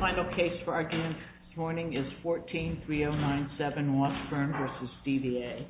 Final case for argument this morning is 14-3097 Washburn v. DVA. Washburn v. DVA.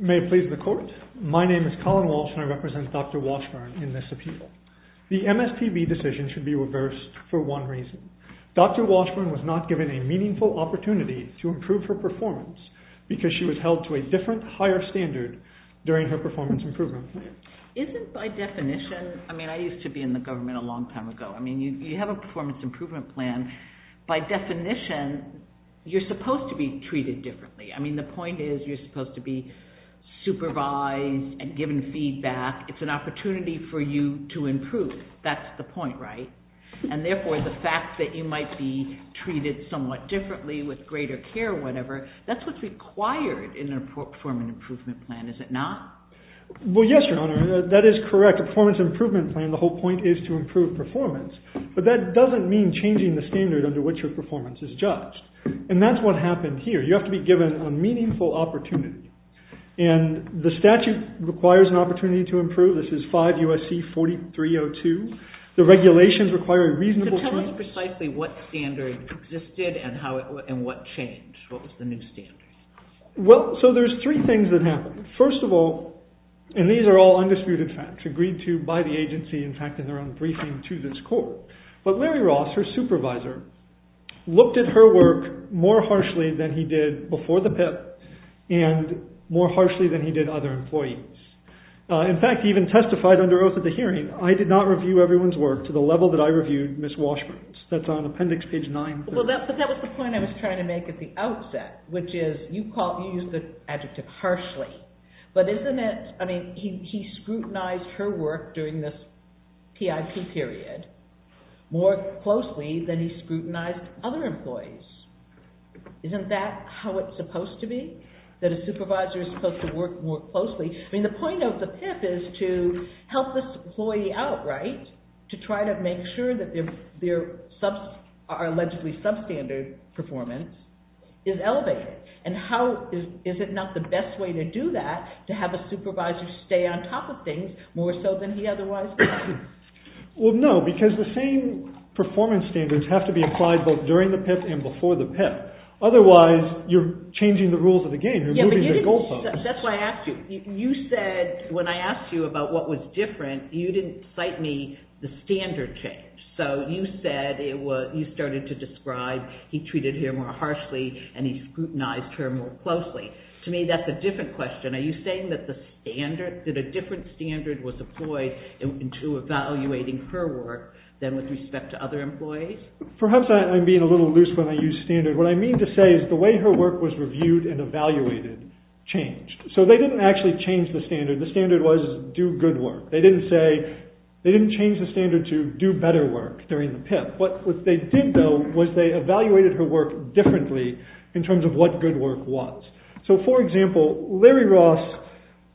May it please the court. My name is Colin Walsh and I represent Dr. Washburn in this appeal. The MSPB decision should be reversed for one reason. Dr. Washburn was not given a meaningful opportunity to improve her performance because she was held to a different higher standard during her performance improvement plan. Isn't by definition, I mean I used to be in the government a long time ago, I mean you have a performance improvement plan, by definition you're supposed to be treated differently. I mean the point is you're supposed to be supervised and given feedback. It's an opportunity for you to improve. That's the point, right? And therefore the fact that you might be treated somewhat differently with greater care or whatever, that's what's required in a performance improvement plan, is it not? Well, yes, Your Honor, that is correct. A performance improvement plan, the whole point is to improve performance. But that doesn't mean changing the standard under which your performance is judged. And that's what happened here. You have to be given a meaningful opportunity. And the statute requires an opportunity to improve. This is 5 U.S.C. 4302. The regulations require a reasonable change. So tell us precisely what standard existed and what changed. What was the new standard? Well, so there's three things that happened. First of all, and these are all undisputed facts agreed to by the agency, in fact in their own briefing to this court. But Larry Ross, her supervisor, looked at her work more harshly than he did before the PIP and more harshly than he did other employees. In fact, he even testified under oath at the hearing, I did not review everyone's work to the level that I reviewed Ms. Washburn's. That's on appendix page 9. But that was the point I was trying to make at the outset, which is you use the adjective harshly. But isn't it, I mean, he scrutinized her work during this PIP period more closely than he scrutinized other employees. Isn't that how it's supposed to be? That a supervisor is supposed to work more closely? I mean, the point of the PIP is to help this employee out, right? To try to make sure that their allegedly substandard performance is elevated. And how, is it not the best way to do that, to have a supervisor stay on top of things more so than he otherwise would? Well, no, because the same performance standards have to be applied both during the PIP and before the PIP. Otherwise, you're changing the rules of the game. You're moving the goals up. That's why I asked you. You said, when I asked you about what was different, you didn't cite me the standard change. So you said, you started to describe, he treated her more harshly and he scrutinized her more closely. To me, that's a different question. Are you saying that a different standard was employed into evaluating her work than with respect to other employees? Perhaps I'm being a little loose when I use standard. What I mean to say is the way her work was reviewed and evaluated changed. So they didn't actually change the standard. The standard was do good work. They didn't change the standard to do better work during the PIP. What they did, though, was they evaluated her work differently in terms of what good work was. So, for example, Larry Ross,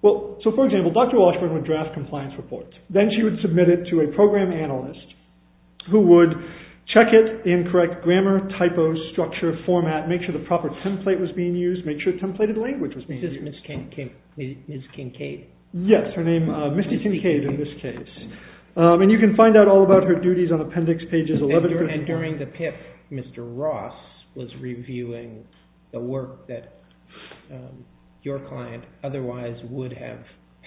well, so, for example, Dr. Washburn would draft compliance reports. Then she would submit it to a program analyst who would check it in correct grammar, typos, structure, format, make sure the proper template was being used, make sure templated language was being used. It's Ms. Kincaid. Yes, her name, Misty Kincaid in this case. And you can find out all about her duties on appendix pages 11 through 14. And during the PIP, Mr. Ross was reviewing the work that your client otherwise would have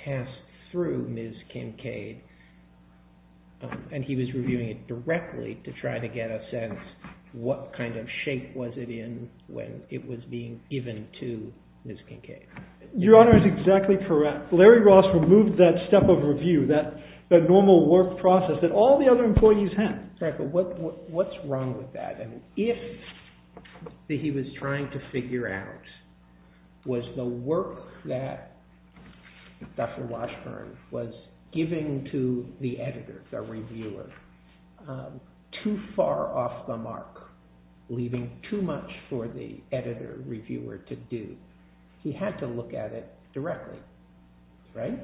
passed through Ms. Kincaid, and he was reviewing it directly to try to get a sense what kind of shape was it in when it was being given to Ms. Kincaid. Your Honor is exactly correct. Larry Ross removed that step of review, that normal work process that all the other employees had. Right, but what's wrong with that? And if what he was trying to figure out was the work that Dr. Washburn was giving to the editor, the reviewer, too far off the mark, leaving too much for the editor, reviewer to do, he had to look at it directly, right?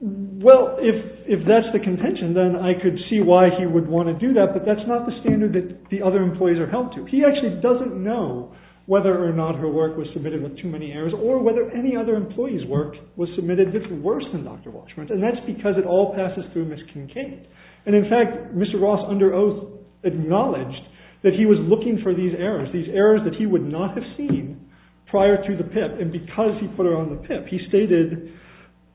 Well, if that's the contention, then I could see why he would want to do that, but that's not the standard that the other employees are held to. He actually doesn't know whether or not her work was submitted with too many errors or whether any other employee's work was submitted worse than Dr. Washburn's. And that's because it all passes through Ms. Kincaid. And in fact, Mr. Ross under oath acknowledged that he was looking for these errors, these errors that he would not have seen prior to the PIP. And because he put her on the PIP, he stated,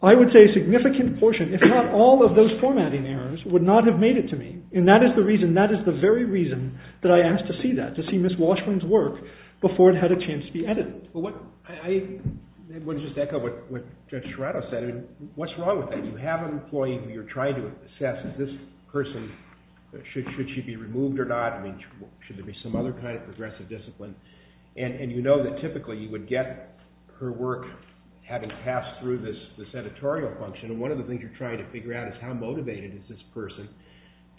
I would say, a significant portion, if not all of those formatting errors, would not have made it to me. And that is the reason, that is the very reason that I asked to see that, to see Ms. Washburn's work before it had a chance to be edited. I want to just echo what Judge Serrato said. I mean, what's wrong with that? You have an employee who you're trying to assess, this person, should she be removed or not? I mean, should there be some other kind of progressive discipline? And you know that typically you would get her work having passed through this editorial function. And one of the things you're trying to figure out is how motivated is this person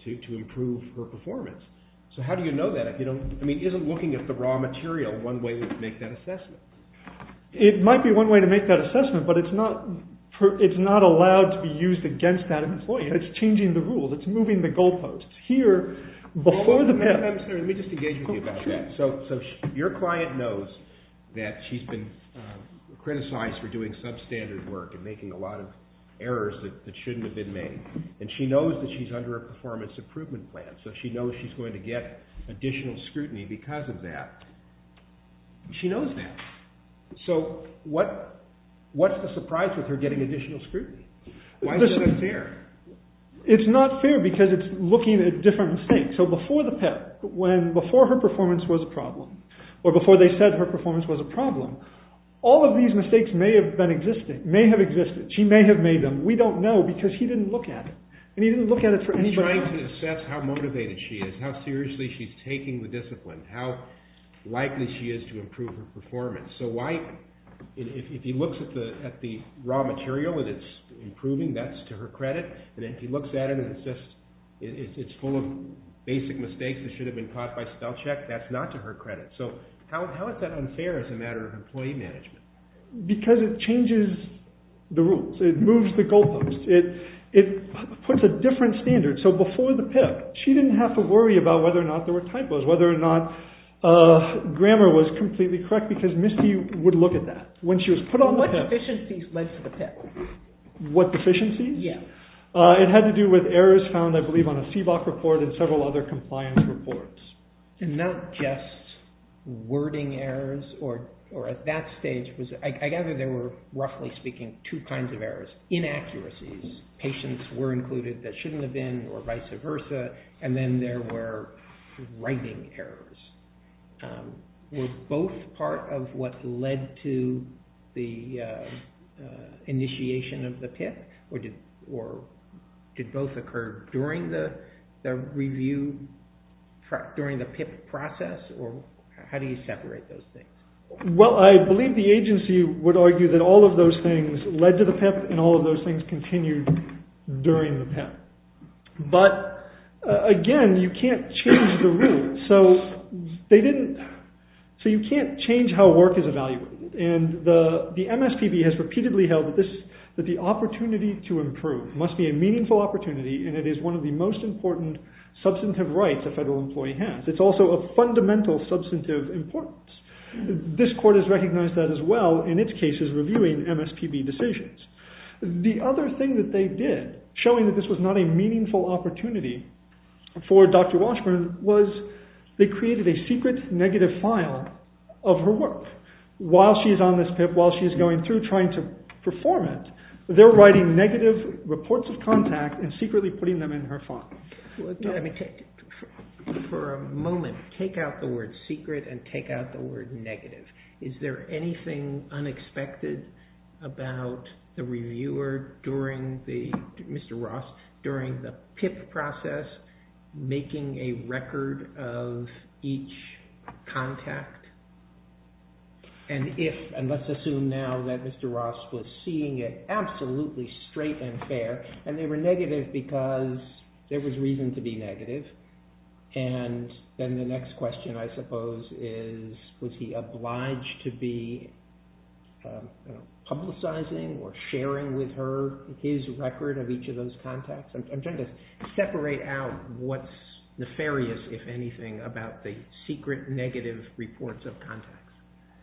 to improve her performance? So how do you know that? I mean, isn't looking at the raw material one way to make that assessment? It might be one way to make that assessment, but it's not allowed to be used against that employee. It's changing the rules. It's moving the goalposts. It's here before the PIP. Let me just engage with you about that. So your client knows that she's been criticized for doing substandard work and making a lot of errors that shouldn't have been made. And she knows that she's under a performance improvement plan, so she knows she's going to get additional scrutiny because of that. She knows that. So what's the surprise with her getting additional scrutiny? Why is that unfair? It's not fair because it's looking at different mistakes. So before her performance was a problem, or before they said her performance was a problem, all of these mistakes may have existed. She may have made them. We don't know because he didn't look at it. And he didn't look at it for anybody else. He's trying to assess how motivated she is, how seriously she's taking the discipline, how likely she is to improve her performance. So if he looks at the raw material and it's improving, that's to her credit. And if he looks at it and it's full of basic mistakes that should have been caught by spellcheck, that's not to her credit. So how is that unfair as a matter of employee management? Because it changes the rules. It moves the goalposts. It puts a different standard. So before the PIP, she didn't have to worry about whether or not there were typos, whether or not grammar was completely correct because Misty would look at that. What deficiencies led to the PIP? What deficiencies? Yeah. It had to do with errors found, I believe, on a CBOC report and several other compliance reports. And not just wording errors or at that stage. I gather there were, roughly speaking, two kinds of errors. Inaccuracies. Patients were included that shouldn't have been or vice versa. And then there were writing errors. Were both part of what led to the initiation of the PIP? Or did both occur during the review, during the PIP process? Or how do you separate those things? Well, I believe the agency would argue that all of those things led to the PIP and all of those things continued during the PIP. But, again, you can't change the rules. So you can't change how work is evaluated. And the MSPB has repeatedly held that the opportunity to improve must be a meaningful opportunity and it is one of the most important substantive rights a federal employee has. It's also a fundamental substantive importance. This court has recognized that as well in its cases reviewing MSPB decisions. The other thing that they did, showing that this was not a meaningful opportunity for Dr. Walshburn, was they created a secret negative file of her work. While she's on this PIP, while she's going through trying to perform it, they're writing negative reports of contact and secretly putting them in her file. For a moment, take out the word secret and take out the word negative. Is there anything unexpected about the reviewer during the PIP process making a record of each contact? And let's assume now that Mr. Ross was seeing it absolutely straight and fair and they were negative because there was reason to be negative. And then the next question, I suppose, is was he obliged to be publicizing or sharing with her his record of each of those contacts? I'm trying to separate out what's nefarious, if anything, about the secret negative reports of contact.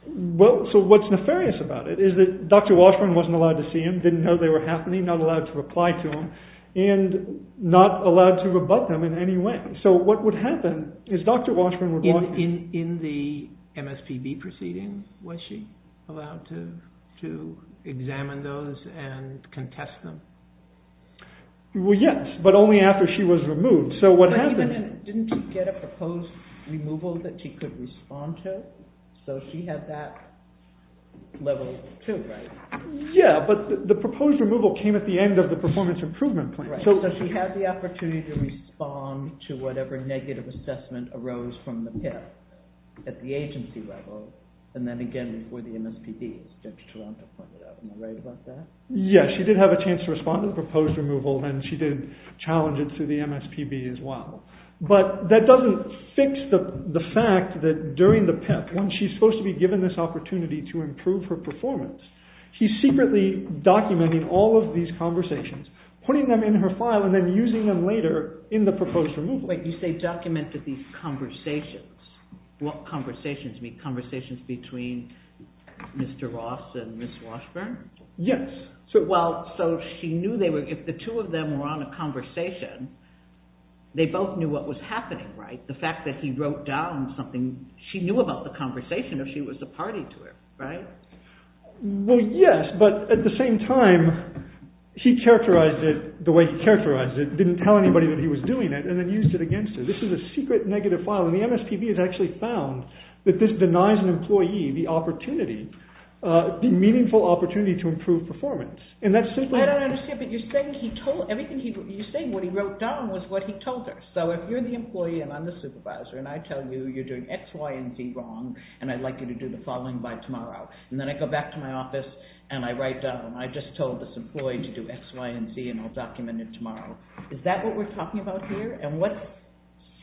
Well, so what's nefarious about it is that Dr. Walshburn wasn't allowed to see them, didn't know they were happening, not allowed to reply to them, and not allowed to rebut them in any way. So what would happen is Dr. Walshburn would walk... In the MSPB proceedings, was she allowed to examine those and contest them? Well, yes, but only after she was removed. But didn't she get a proposed removal that she could respond to? So she had that level of proof, right? Yeah, but the proposed removal came at the end of the performance improvement plan. to whatever negative assessment arose from the PIP at the agency level, and then again before the MSPB, as Judge Toronto pointed out. Am I right about that? Yes, she did have a chance to respond to the proposed removal, and she did challenge it to the MSPB as well. But that doesn't fix the fact that during the PIP, when she's supposed to be given this opportunity to improve her performance, he's secretly documenting all of these conversations, putting them in her file, and then using them later in the proposed removal. Wait, you say documented these conversations. What conversations? You mean conversations between Mr. Ross and Ms. Washburn? Yes. Well, so she knew they were, if the two of them were on a conversation, they both knew what was happening, right? The fact that he wrote down something, she knew about the conversation, or she was a party to it, right? Well, yes, but at the same time, he characterized it the way he characterized it, didn't tell anybody that he was doing it, and then used it against her. This is a secret negative file, and the MSPB has actually found that this denies an employee the opportunity, the meaningful opportunity to improve performance. I don't understand, but you're saying he told, you're saying what he wrote down was what he told her. So if you're the employee and I'm the supervisor, and I tell you you're doing X, Y, and Z wrong, and I'd like you to do the following by tomorrow, and then I go back to my office and I write down, I just told this employee to do X, Y, and Z, and I'll document it tomorrow. Is that what we're talking about here? And what's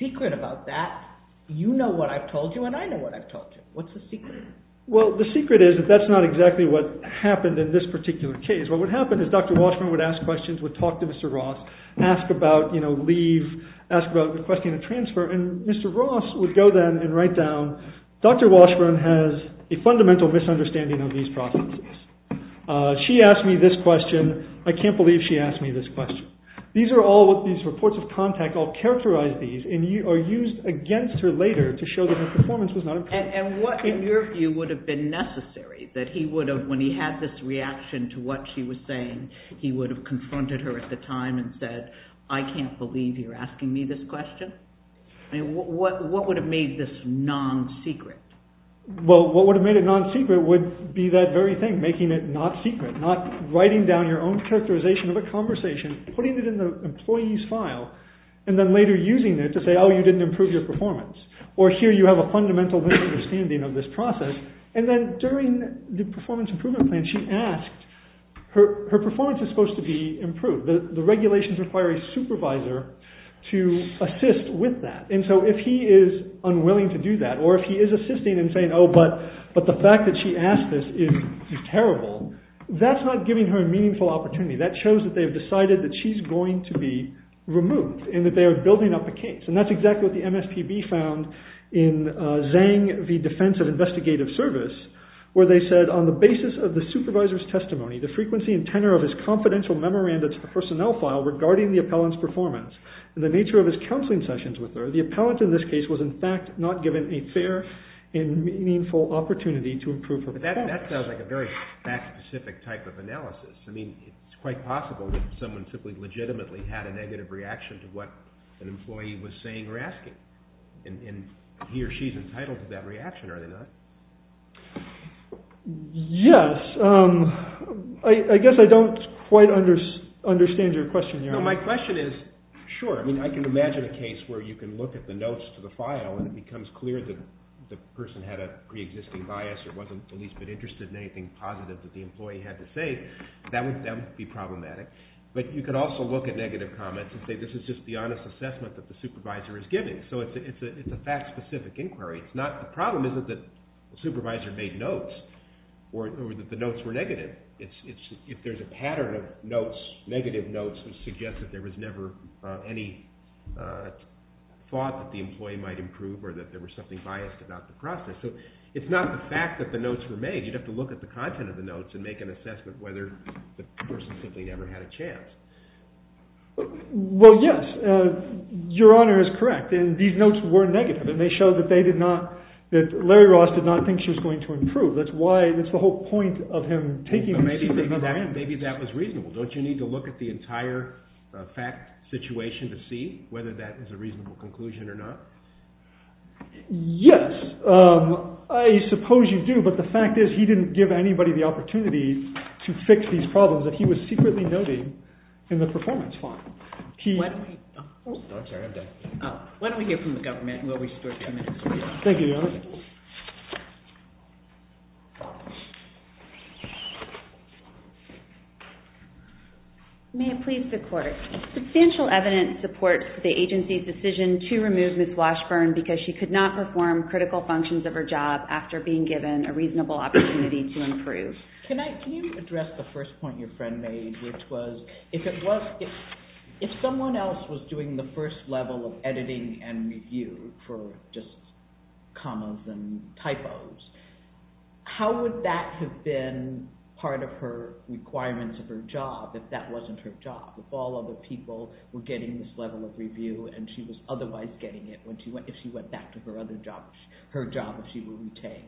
secret about that? You know what I've told you, and I know what I've told you. What's the secret? Well, the secret is that that's not exactly what happened in this particular case. What would happen is Dr. Washburn would ask questions, would talk to Mr. Ross, ask about leave, ask about requesting a transfer, and Mr. Ross would go then and write down, Dr. Washburn has a fundamental misunderstanding of these processes. She asked me this question. I can't believe she asked me this question. These reports of contact all characterize these and are used against her later to show that her performance was not important. And what, in your view, would have been necessary, that he would have, when he had this reaction to what she was saying, he would have confronted her at the time and said, I can't believe you're asking me this question? What would have made this non-secret? Well, what would have made it non-secret would be that very thing, making it not secret, not writing down your own characterization of a conversation, putting it in the employee's file, and then later using it to say, oh, you didn't improve your performance, or here you have a fundamental misunderstanding of this process. And then during the performance improvement plan, she asked, her performance is supposed to be improved. The regulations require a supervisor to assist with that. And so if he is unwilling to do that, or if he is assisting in saying, oh, but the fact that she asked this is terrible, that's not giving her a meaningful opportunity. That shows that they have decided that she's going to be removed and that they are building up a case. And that's exactly what the MSPB found in Zhang v. Defense of Investigative Service, where they said, on the basis of the supervisor's testimony, the frequency and tenor of his confidential memoranda to the personnel file regarding the appellant's performance and the nature of his counseling sessions with her, the appellant in this case was, in fact, not given a fair and meaningful opportunity to improve her performance. But that sounds like a very fact-specific type of analysis. I mean, it's quite possible that someone simply legitimately had a negative reaction to what an employee was saying or asking. And he or she is entitled to that reaction, are they not? Yes. I guess I don't quite understand your question here. No, my question is, sure. I mean, I can imagine a case where you can look at the notes to the file and it becomes clear that the person had a preexisting bias or wasn't at least a bit interested in anything positive that the employee had to say. That would be problematic. But you could also look at negative comments and say this is just the honest assessment that the supervisor is giving. So it's a fact-specific inquiry. The problem isn't that the supervisor made notes or that the notes were negative. It's if there's a pattern of notes, negative notes, that suggest that there was never any thought that the employee might improve or that there was something biased about the process. You'd have to look at the content of the notes and make an assessment whether the person simply never had a chance. Well, yes. Your Honor is correct. These notes were negative and they show that they did not, that Larry Ross did not think she was going to improve. That's why, that's the whole point of him taking this inquiry. Maybe that was reasonable. Don't you need to look at the entire fact situation to see whether that is a reasonable conclusion or not? Yes. I suppose you do. But the fact is that he didn't give anybody the opportunity to fix these problems that he was secretly noting in the performance form. Why don't we hear from the government and we'll restore a few minutes. Thank you, Your Honor. May it please the Court. Substantial evidence supports the agency's decision to remove Ms. Washburn because she could not perform critical functions of her job after being given a reasonable opportunity to improve. Can you address the first point your friend made, which was if someone else was doing the first level of editing and review for just commas and typos, how would that have been part of her requirements of her job if that wasn't her job? If all other people were getting this level of review and she was otherwise getting it if she went back to her other job, her job that she would retain?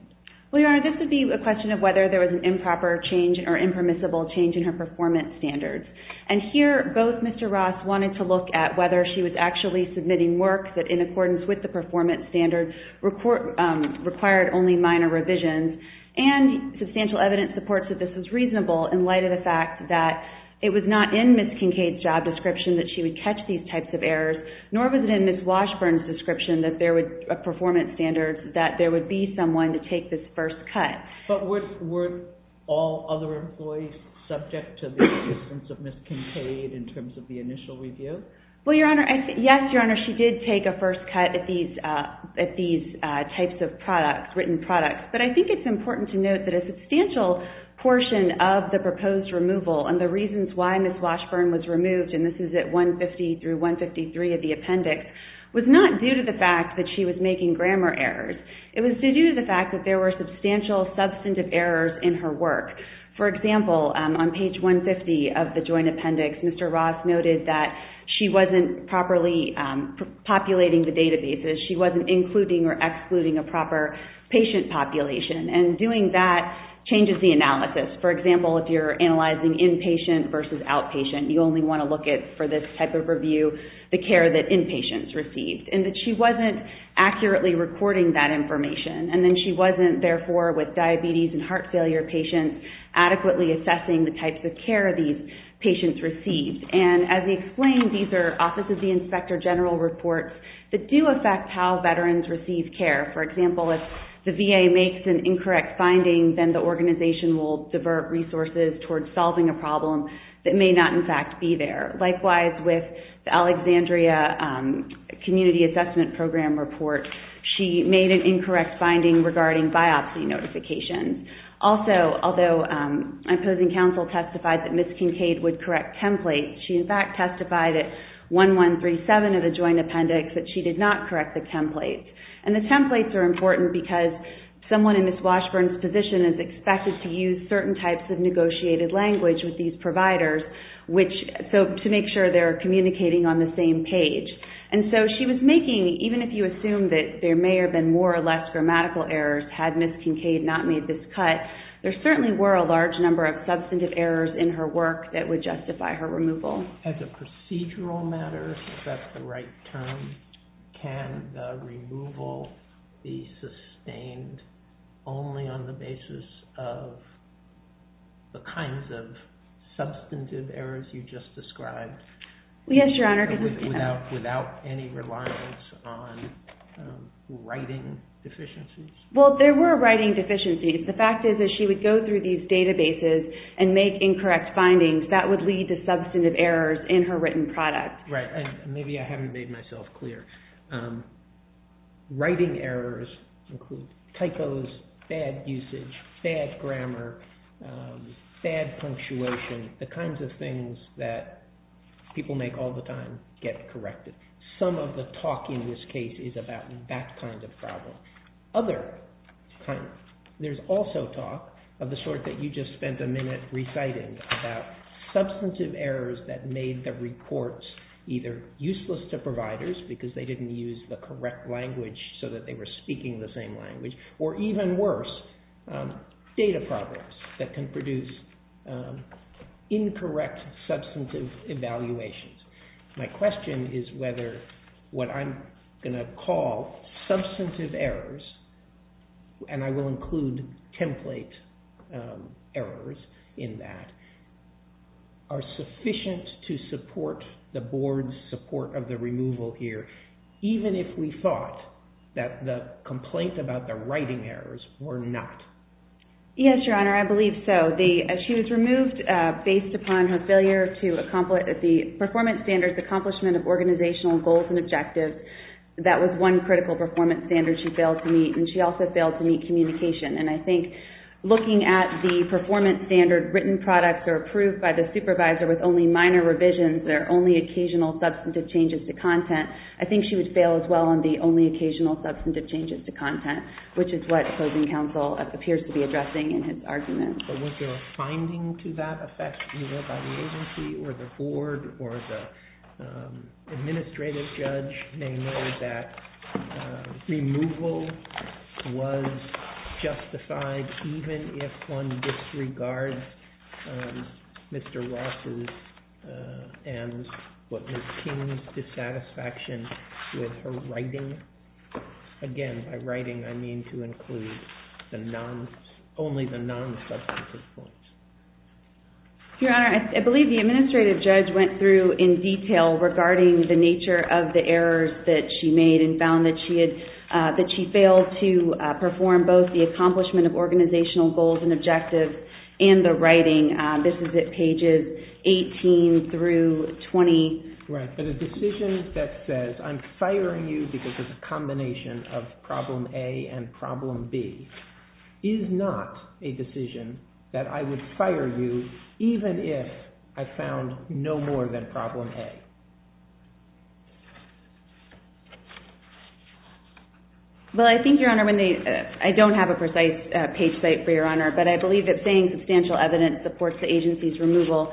Well, Your Honor, this would be a question of whether there was an improper change or impermissible change in her performance standards. And here, both Mr. Ross wanted to look at whether she was actually submitting work that in accordance with the performance standards required only minor revisions. And substantial evidence supports that this was reasonable in light of the fact that it was not in Ms. Kincaid's job description that she would catch these types of errors, nor was it in Ms. Washburn's description of performance standards that there would be someone to take this first cut. But were all other employees subject to this in terms of Ms. Kincaid, in terms of the initial review? Well, Your Honor, yes, Your Honor, she did take a first cut at these types of written products. But I think it's important to note that a substantial portion of the proposed removal and the reasons why Ms. Washburn was removed, and this is at 150 through 153 of the appendix, was not due to the fact that she was making grammar errors. It was due to the fact that there were substantial substantive errors in her work. For example, on page 150 of the joint appendix, Mr. Ross noted that she wasn't properly populating the databases, she wasn't including or excluding a proper patient population. And doing that changes the analysis. For example, if you're analyzing inpatient versus outpatient, you only want to look at, for this type of review, the care that inpatients received, and that she wasn't accurately recording that information. And then she wasn't, therefore, with diabetes and heart failure patients, adequately assessing the types of care these patients received. And as we explained, these are Office of the Inspector General reports that do affect how veterans receive care. For example, if the VA makes an incorrect finding, then the organization will divert resources towards solving a problem that may not, in fact, be there. Likewise, with the Alexandria Community Assessment Program report, she made an incorrect finding regarding biopsy notifications. Also, although opposing counsel testified that Ms. Kincaid would correct templates, she, in fact, testified at 1137 of the joint appendix that she did not correct the template. And the templates are important because someone in Ms. Washburn's position is expected to use certain types of negotiated language with these providers, to make sure they're communicating on the same page. And so she was making, even if you assume that there may have been more or less grammatical errors had Ms. Kincaid not made this cut, there certainly were a large number of substantive errors in her work that would justify her removal. As a procedural matter, if that's the right term, can the removal be sustained only on the basis of the kinds of substantive errors you just described? Yes, Your Honor. Without any reliance on writing deficiencies? Well, there were writing deficiencies. The fact is that she would go through these databases and make incorrect findings. That would lead to substantive errors in her written product. Right, and maybe I haven't made myself clear. Writing errors include typos, bad usage, bad grammar, bad punctuation, the kinds of things that people make all the time get corrected. Some of the talk in this case is about that kind of problem. There's also talk, of the sort that you just spent a minute reciting, about substantive errors that made the reports either useless to providers because they didn't use the correct language so that they were speaking the same language, or even worse, data problems that can produce incorrect substantive evaluations. My question is whether what I'm going to call substantive errors, and I will include template errors in that, are sufficient to support the Board's support of the removal here, even if we thought that the complaint about the writing errors were not. Yes, Your Honor, I believe so. She was removed based upon her failure to accomplish the performance standards accomplishment of organizational goals and objectives. That was one critical performance standard she failed to meet, and she also failed to meet communication, and I think looking at the performance standard written products are approved by the supervisor with only minor revisions, they're only occasional substantive changes to content, I think she would fail as well on the only occasional substantive changes to content, which is what opposing counsel appears to be addressing in his argument. But was there a finding to that effect either by the agency or the Board or the administrative judge may know that removal was justified even if one disregards Mr. Ross's and Ms. King's dissatisfaction with her writing? Again, by writing I mean to include only the non-substantive points. Your Honor, I believe the administrative judge went through in detail regarding the nature of the errors that she made and found that she had, that she failed to perform both the accomplishment of organizational goals and objectives and the writing. This is at pages 18 through 20. Right, but a decision that says I'm firing you because it's a combination of problem A and problem B is not a decision that I would fire you even if I found no more than problem A. Well, I think, Your Honor, I don't have a precise page site for Your Honor, but I believe that saying substantial evidence supports the agency's removal.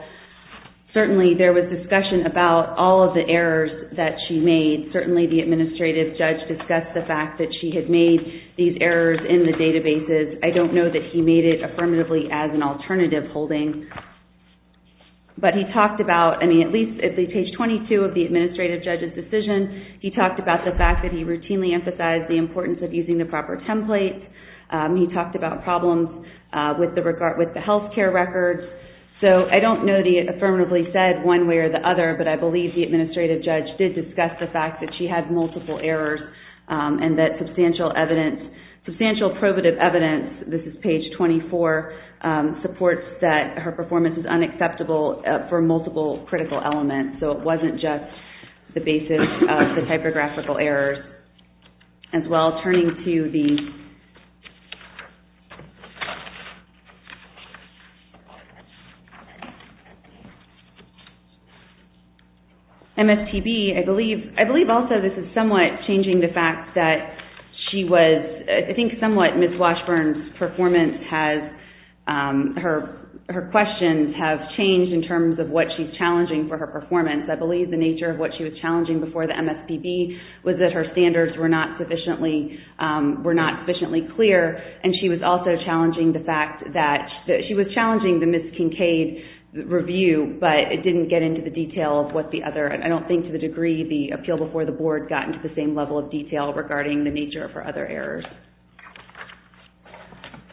Certainly, there was discussion about all of the errors that she made. Certainly, the administrative judge discussed the fact that she had made these errors in the databases. I don't know that he made it affirmatively as an alternative holding. But he talked about, I mean, at least at page 22 of the administrative judge's decision, he talked about the fact that he routinely emphasized the importance of using the proper template. He talked about problems with the health care records. So, I don't know that he affirmatively said one way or the other, but I believe the administrative judge did discuss the fact that she had multiple errors and that substantial evidence, substantial probative evidence, this is page 24, supports that her performance is unacceptable for multiple critical elements. So, it wasn't just the basis of the typographical errors. As well, turning to the... MSPB, I believe also this is somewhat changing the fact that she was, I think somewhat, Ms. Washburn's performance has, her questions have changed in terms of what she's challenging for her performance. I believe the nature of what she was challenging before the MSPB was that her standards were not sufficiently clear and she was also challenging the fact that, she was challenging the Ms. Kincaid review, but it didn't get into the detail of what the other, I don't think to the degree the appeal before the board got into the same level of detail regarding the nature of her other errors.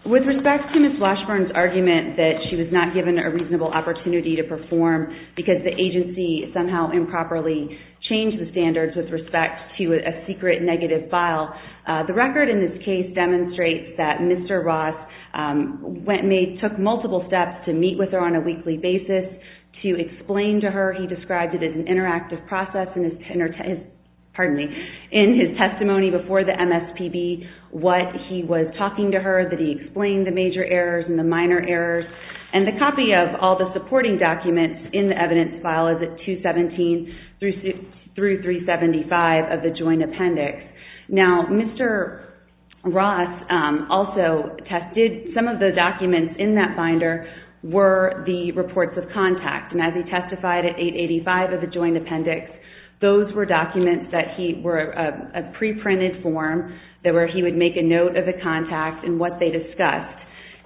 With respect to Ms. Washburn's argument that she was not given a reasonable opportunity to perform because the agency somehow improperly changed the standards with respect to a secret negative file, the record in this case demonstrates that Mr. Ross took multiple steps to meet with her on a weekly basis to explain to her, he described it as an interactive process in his testimony before the MSPB, what he was talking to her, that he explained the major errors and the minor errors and the copy of all the supporting documents in the evidence file is at 217-375 of the joint appendix. Now, Mr. Ross also tested, some of the documents in that binder were the reports of contact and as he testified at 885 of the joint appendix, those were documents that he, were a pre-printed form that where he would make a note of the contact and what they discussed.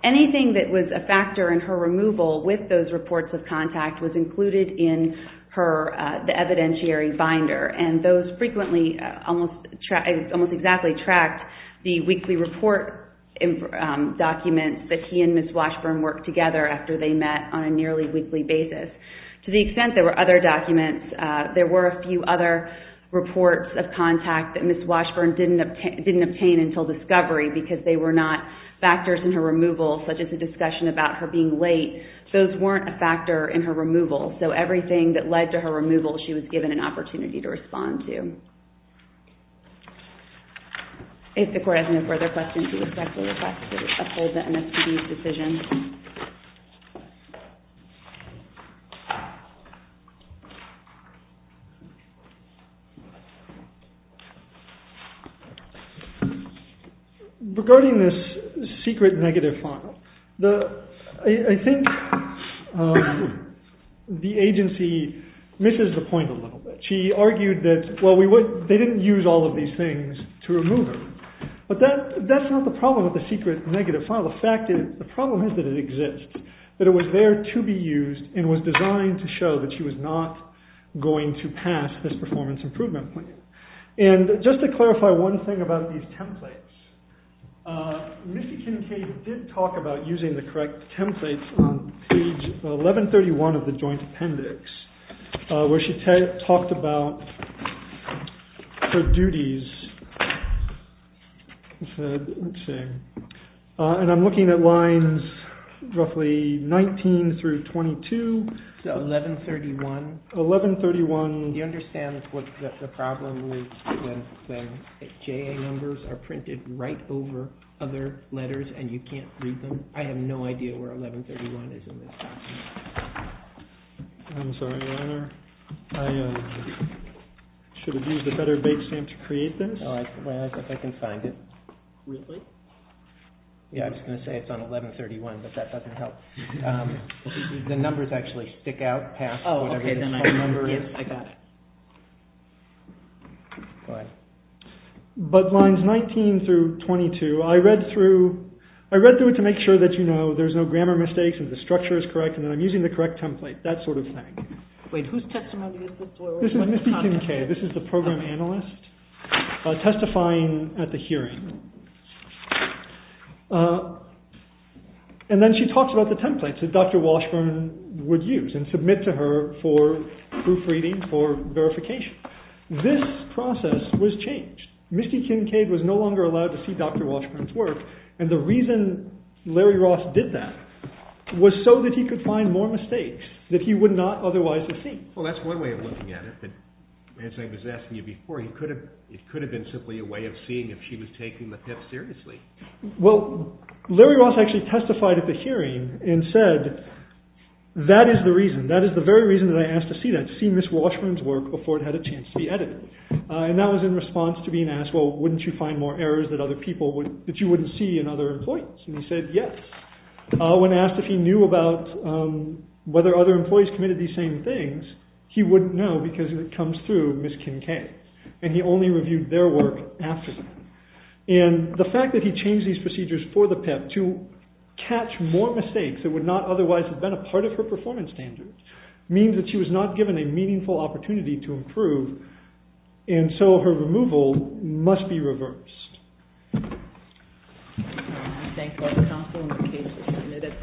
Anything that was a factor in her removal with those reports of contact was included in the evidentiary binder and those frequently, almost exactly tracked the weekly report documents that he and Ms. Washburn worked together after they met on a nearly weekly basis. To the extent there were other documents, there were a few other reports of contact that Ms. Washburn didn't obtain until discovery because they were not factors in her removal, such as the discussion about her being late, those weren't a factor in her removal. So everything that led to her removal, she was given an opportunity to respond to. If the court has no further questions, we respectfully request to uphold the MSPD's decision. Regarding this secret negative file, I think the agency misses the point a little bit. She argued that they didn't use all of these things to remove her, but that's not the problem with the secret negative file. The problem is that it exists, that it was there to be used and was designed to show that she was not going to pass this performance improvement plan. And just to clarify one thing about these templates, Ms. Kincaid did talk about using the correct templates on page 1131 of the joint appendix, where she talked about her duties. And I'm looking at lines roughly 19 through 22. So 1131? 1131. Do you understand what the problem is when JA numbers are printed right over other letters and you can't read them? I have no idea where 1131 is in this document. I'm sorry, Your Honor. I should have used a better bake stamp to create this. I can find it. Really? Yeah, I was going to say it's on 1131, but that doesn't help. The numbers actually stick out past whatever this whole number is. Oh, okay. Yes, I got it. Go ahead. But lines 19 through 22, I read through it to make sure that, you know, there's no grammar mistakes and the structure is correct and that I'm using the correct template, that sort of thing. Wait, whose testimony is this? This is Misty Kincaid. This is the program analyst testifying at the hearing. And then she talks about the templates that Dr. Washburn would use and submit to her for proofreading, for verification. This process was changed. Misty Kincaid was no longer allowed to see Dr. Washburn's work, and the reason Larry Ross did that was so that he could find more mistakes, that he would not otherwise have seen. Well, that's one way of looking at it, but as I was asking you before, it could have been simply a way of seeing if she was taking the PIP seriously. Well, Larry Ross actually testified at the hearing and said, that is the reason, that is the very reason that I asked to see that, to see Ms. Washburn's work before it had a chance to be edited. And that was in response to being asked, well, wouldn't you find more errors that you wouldn't see in other employees? And he said, yes. When asked if he knew about whether other employees committed these same things, he wouldn't know, because it comes through Ms. Kincaid. And he only reviewed their work after that. And the fact that he changed these procedures for the PIP to catch more mistakes that would not otherwise have been a part of her performance standards, means that she was not given a meaningful opportunity to improve, and so her removal must be reversed. I thank all the counsel in the case. And with that, that concludes our testimony today.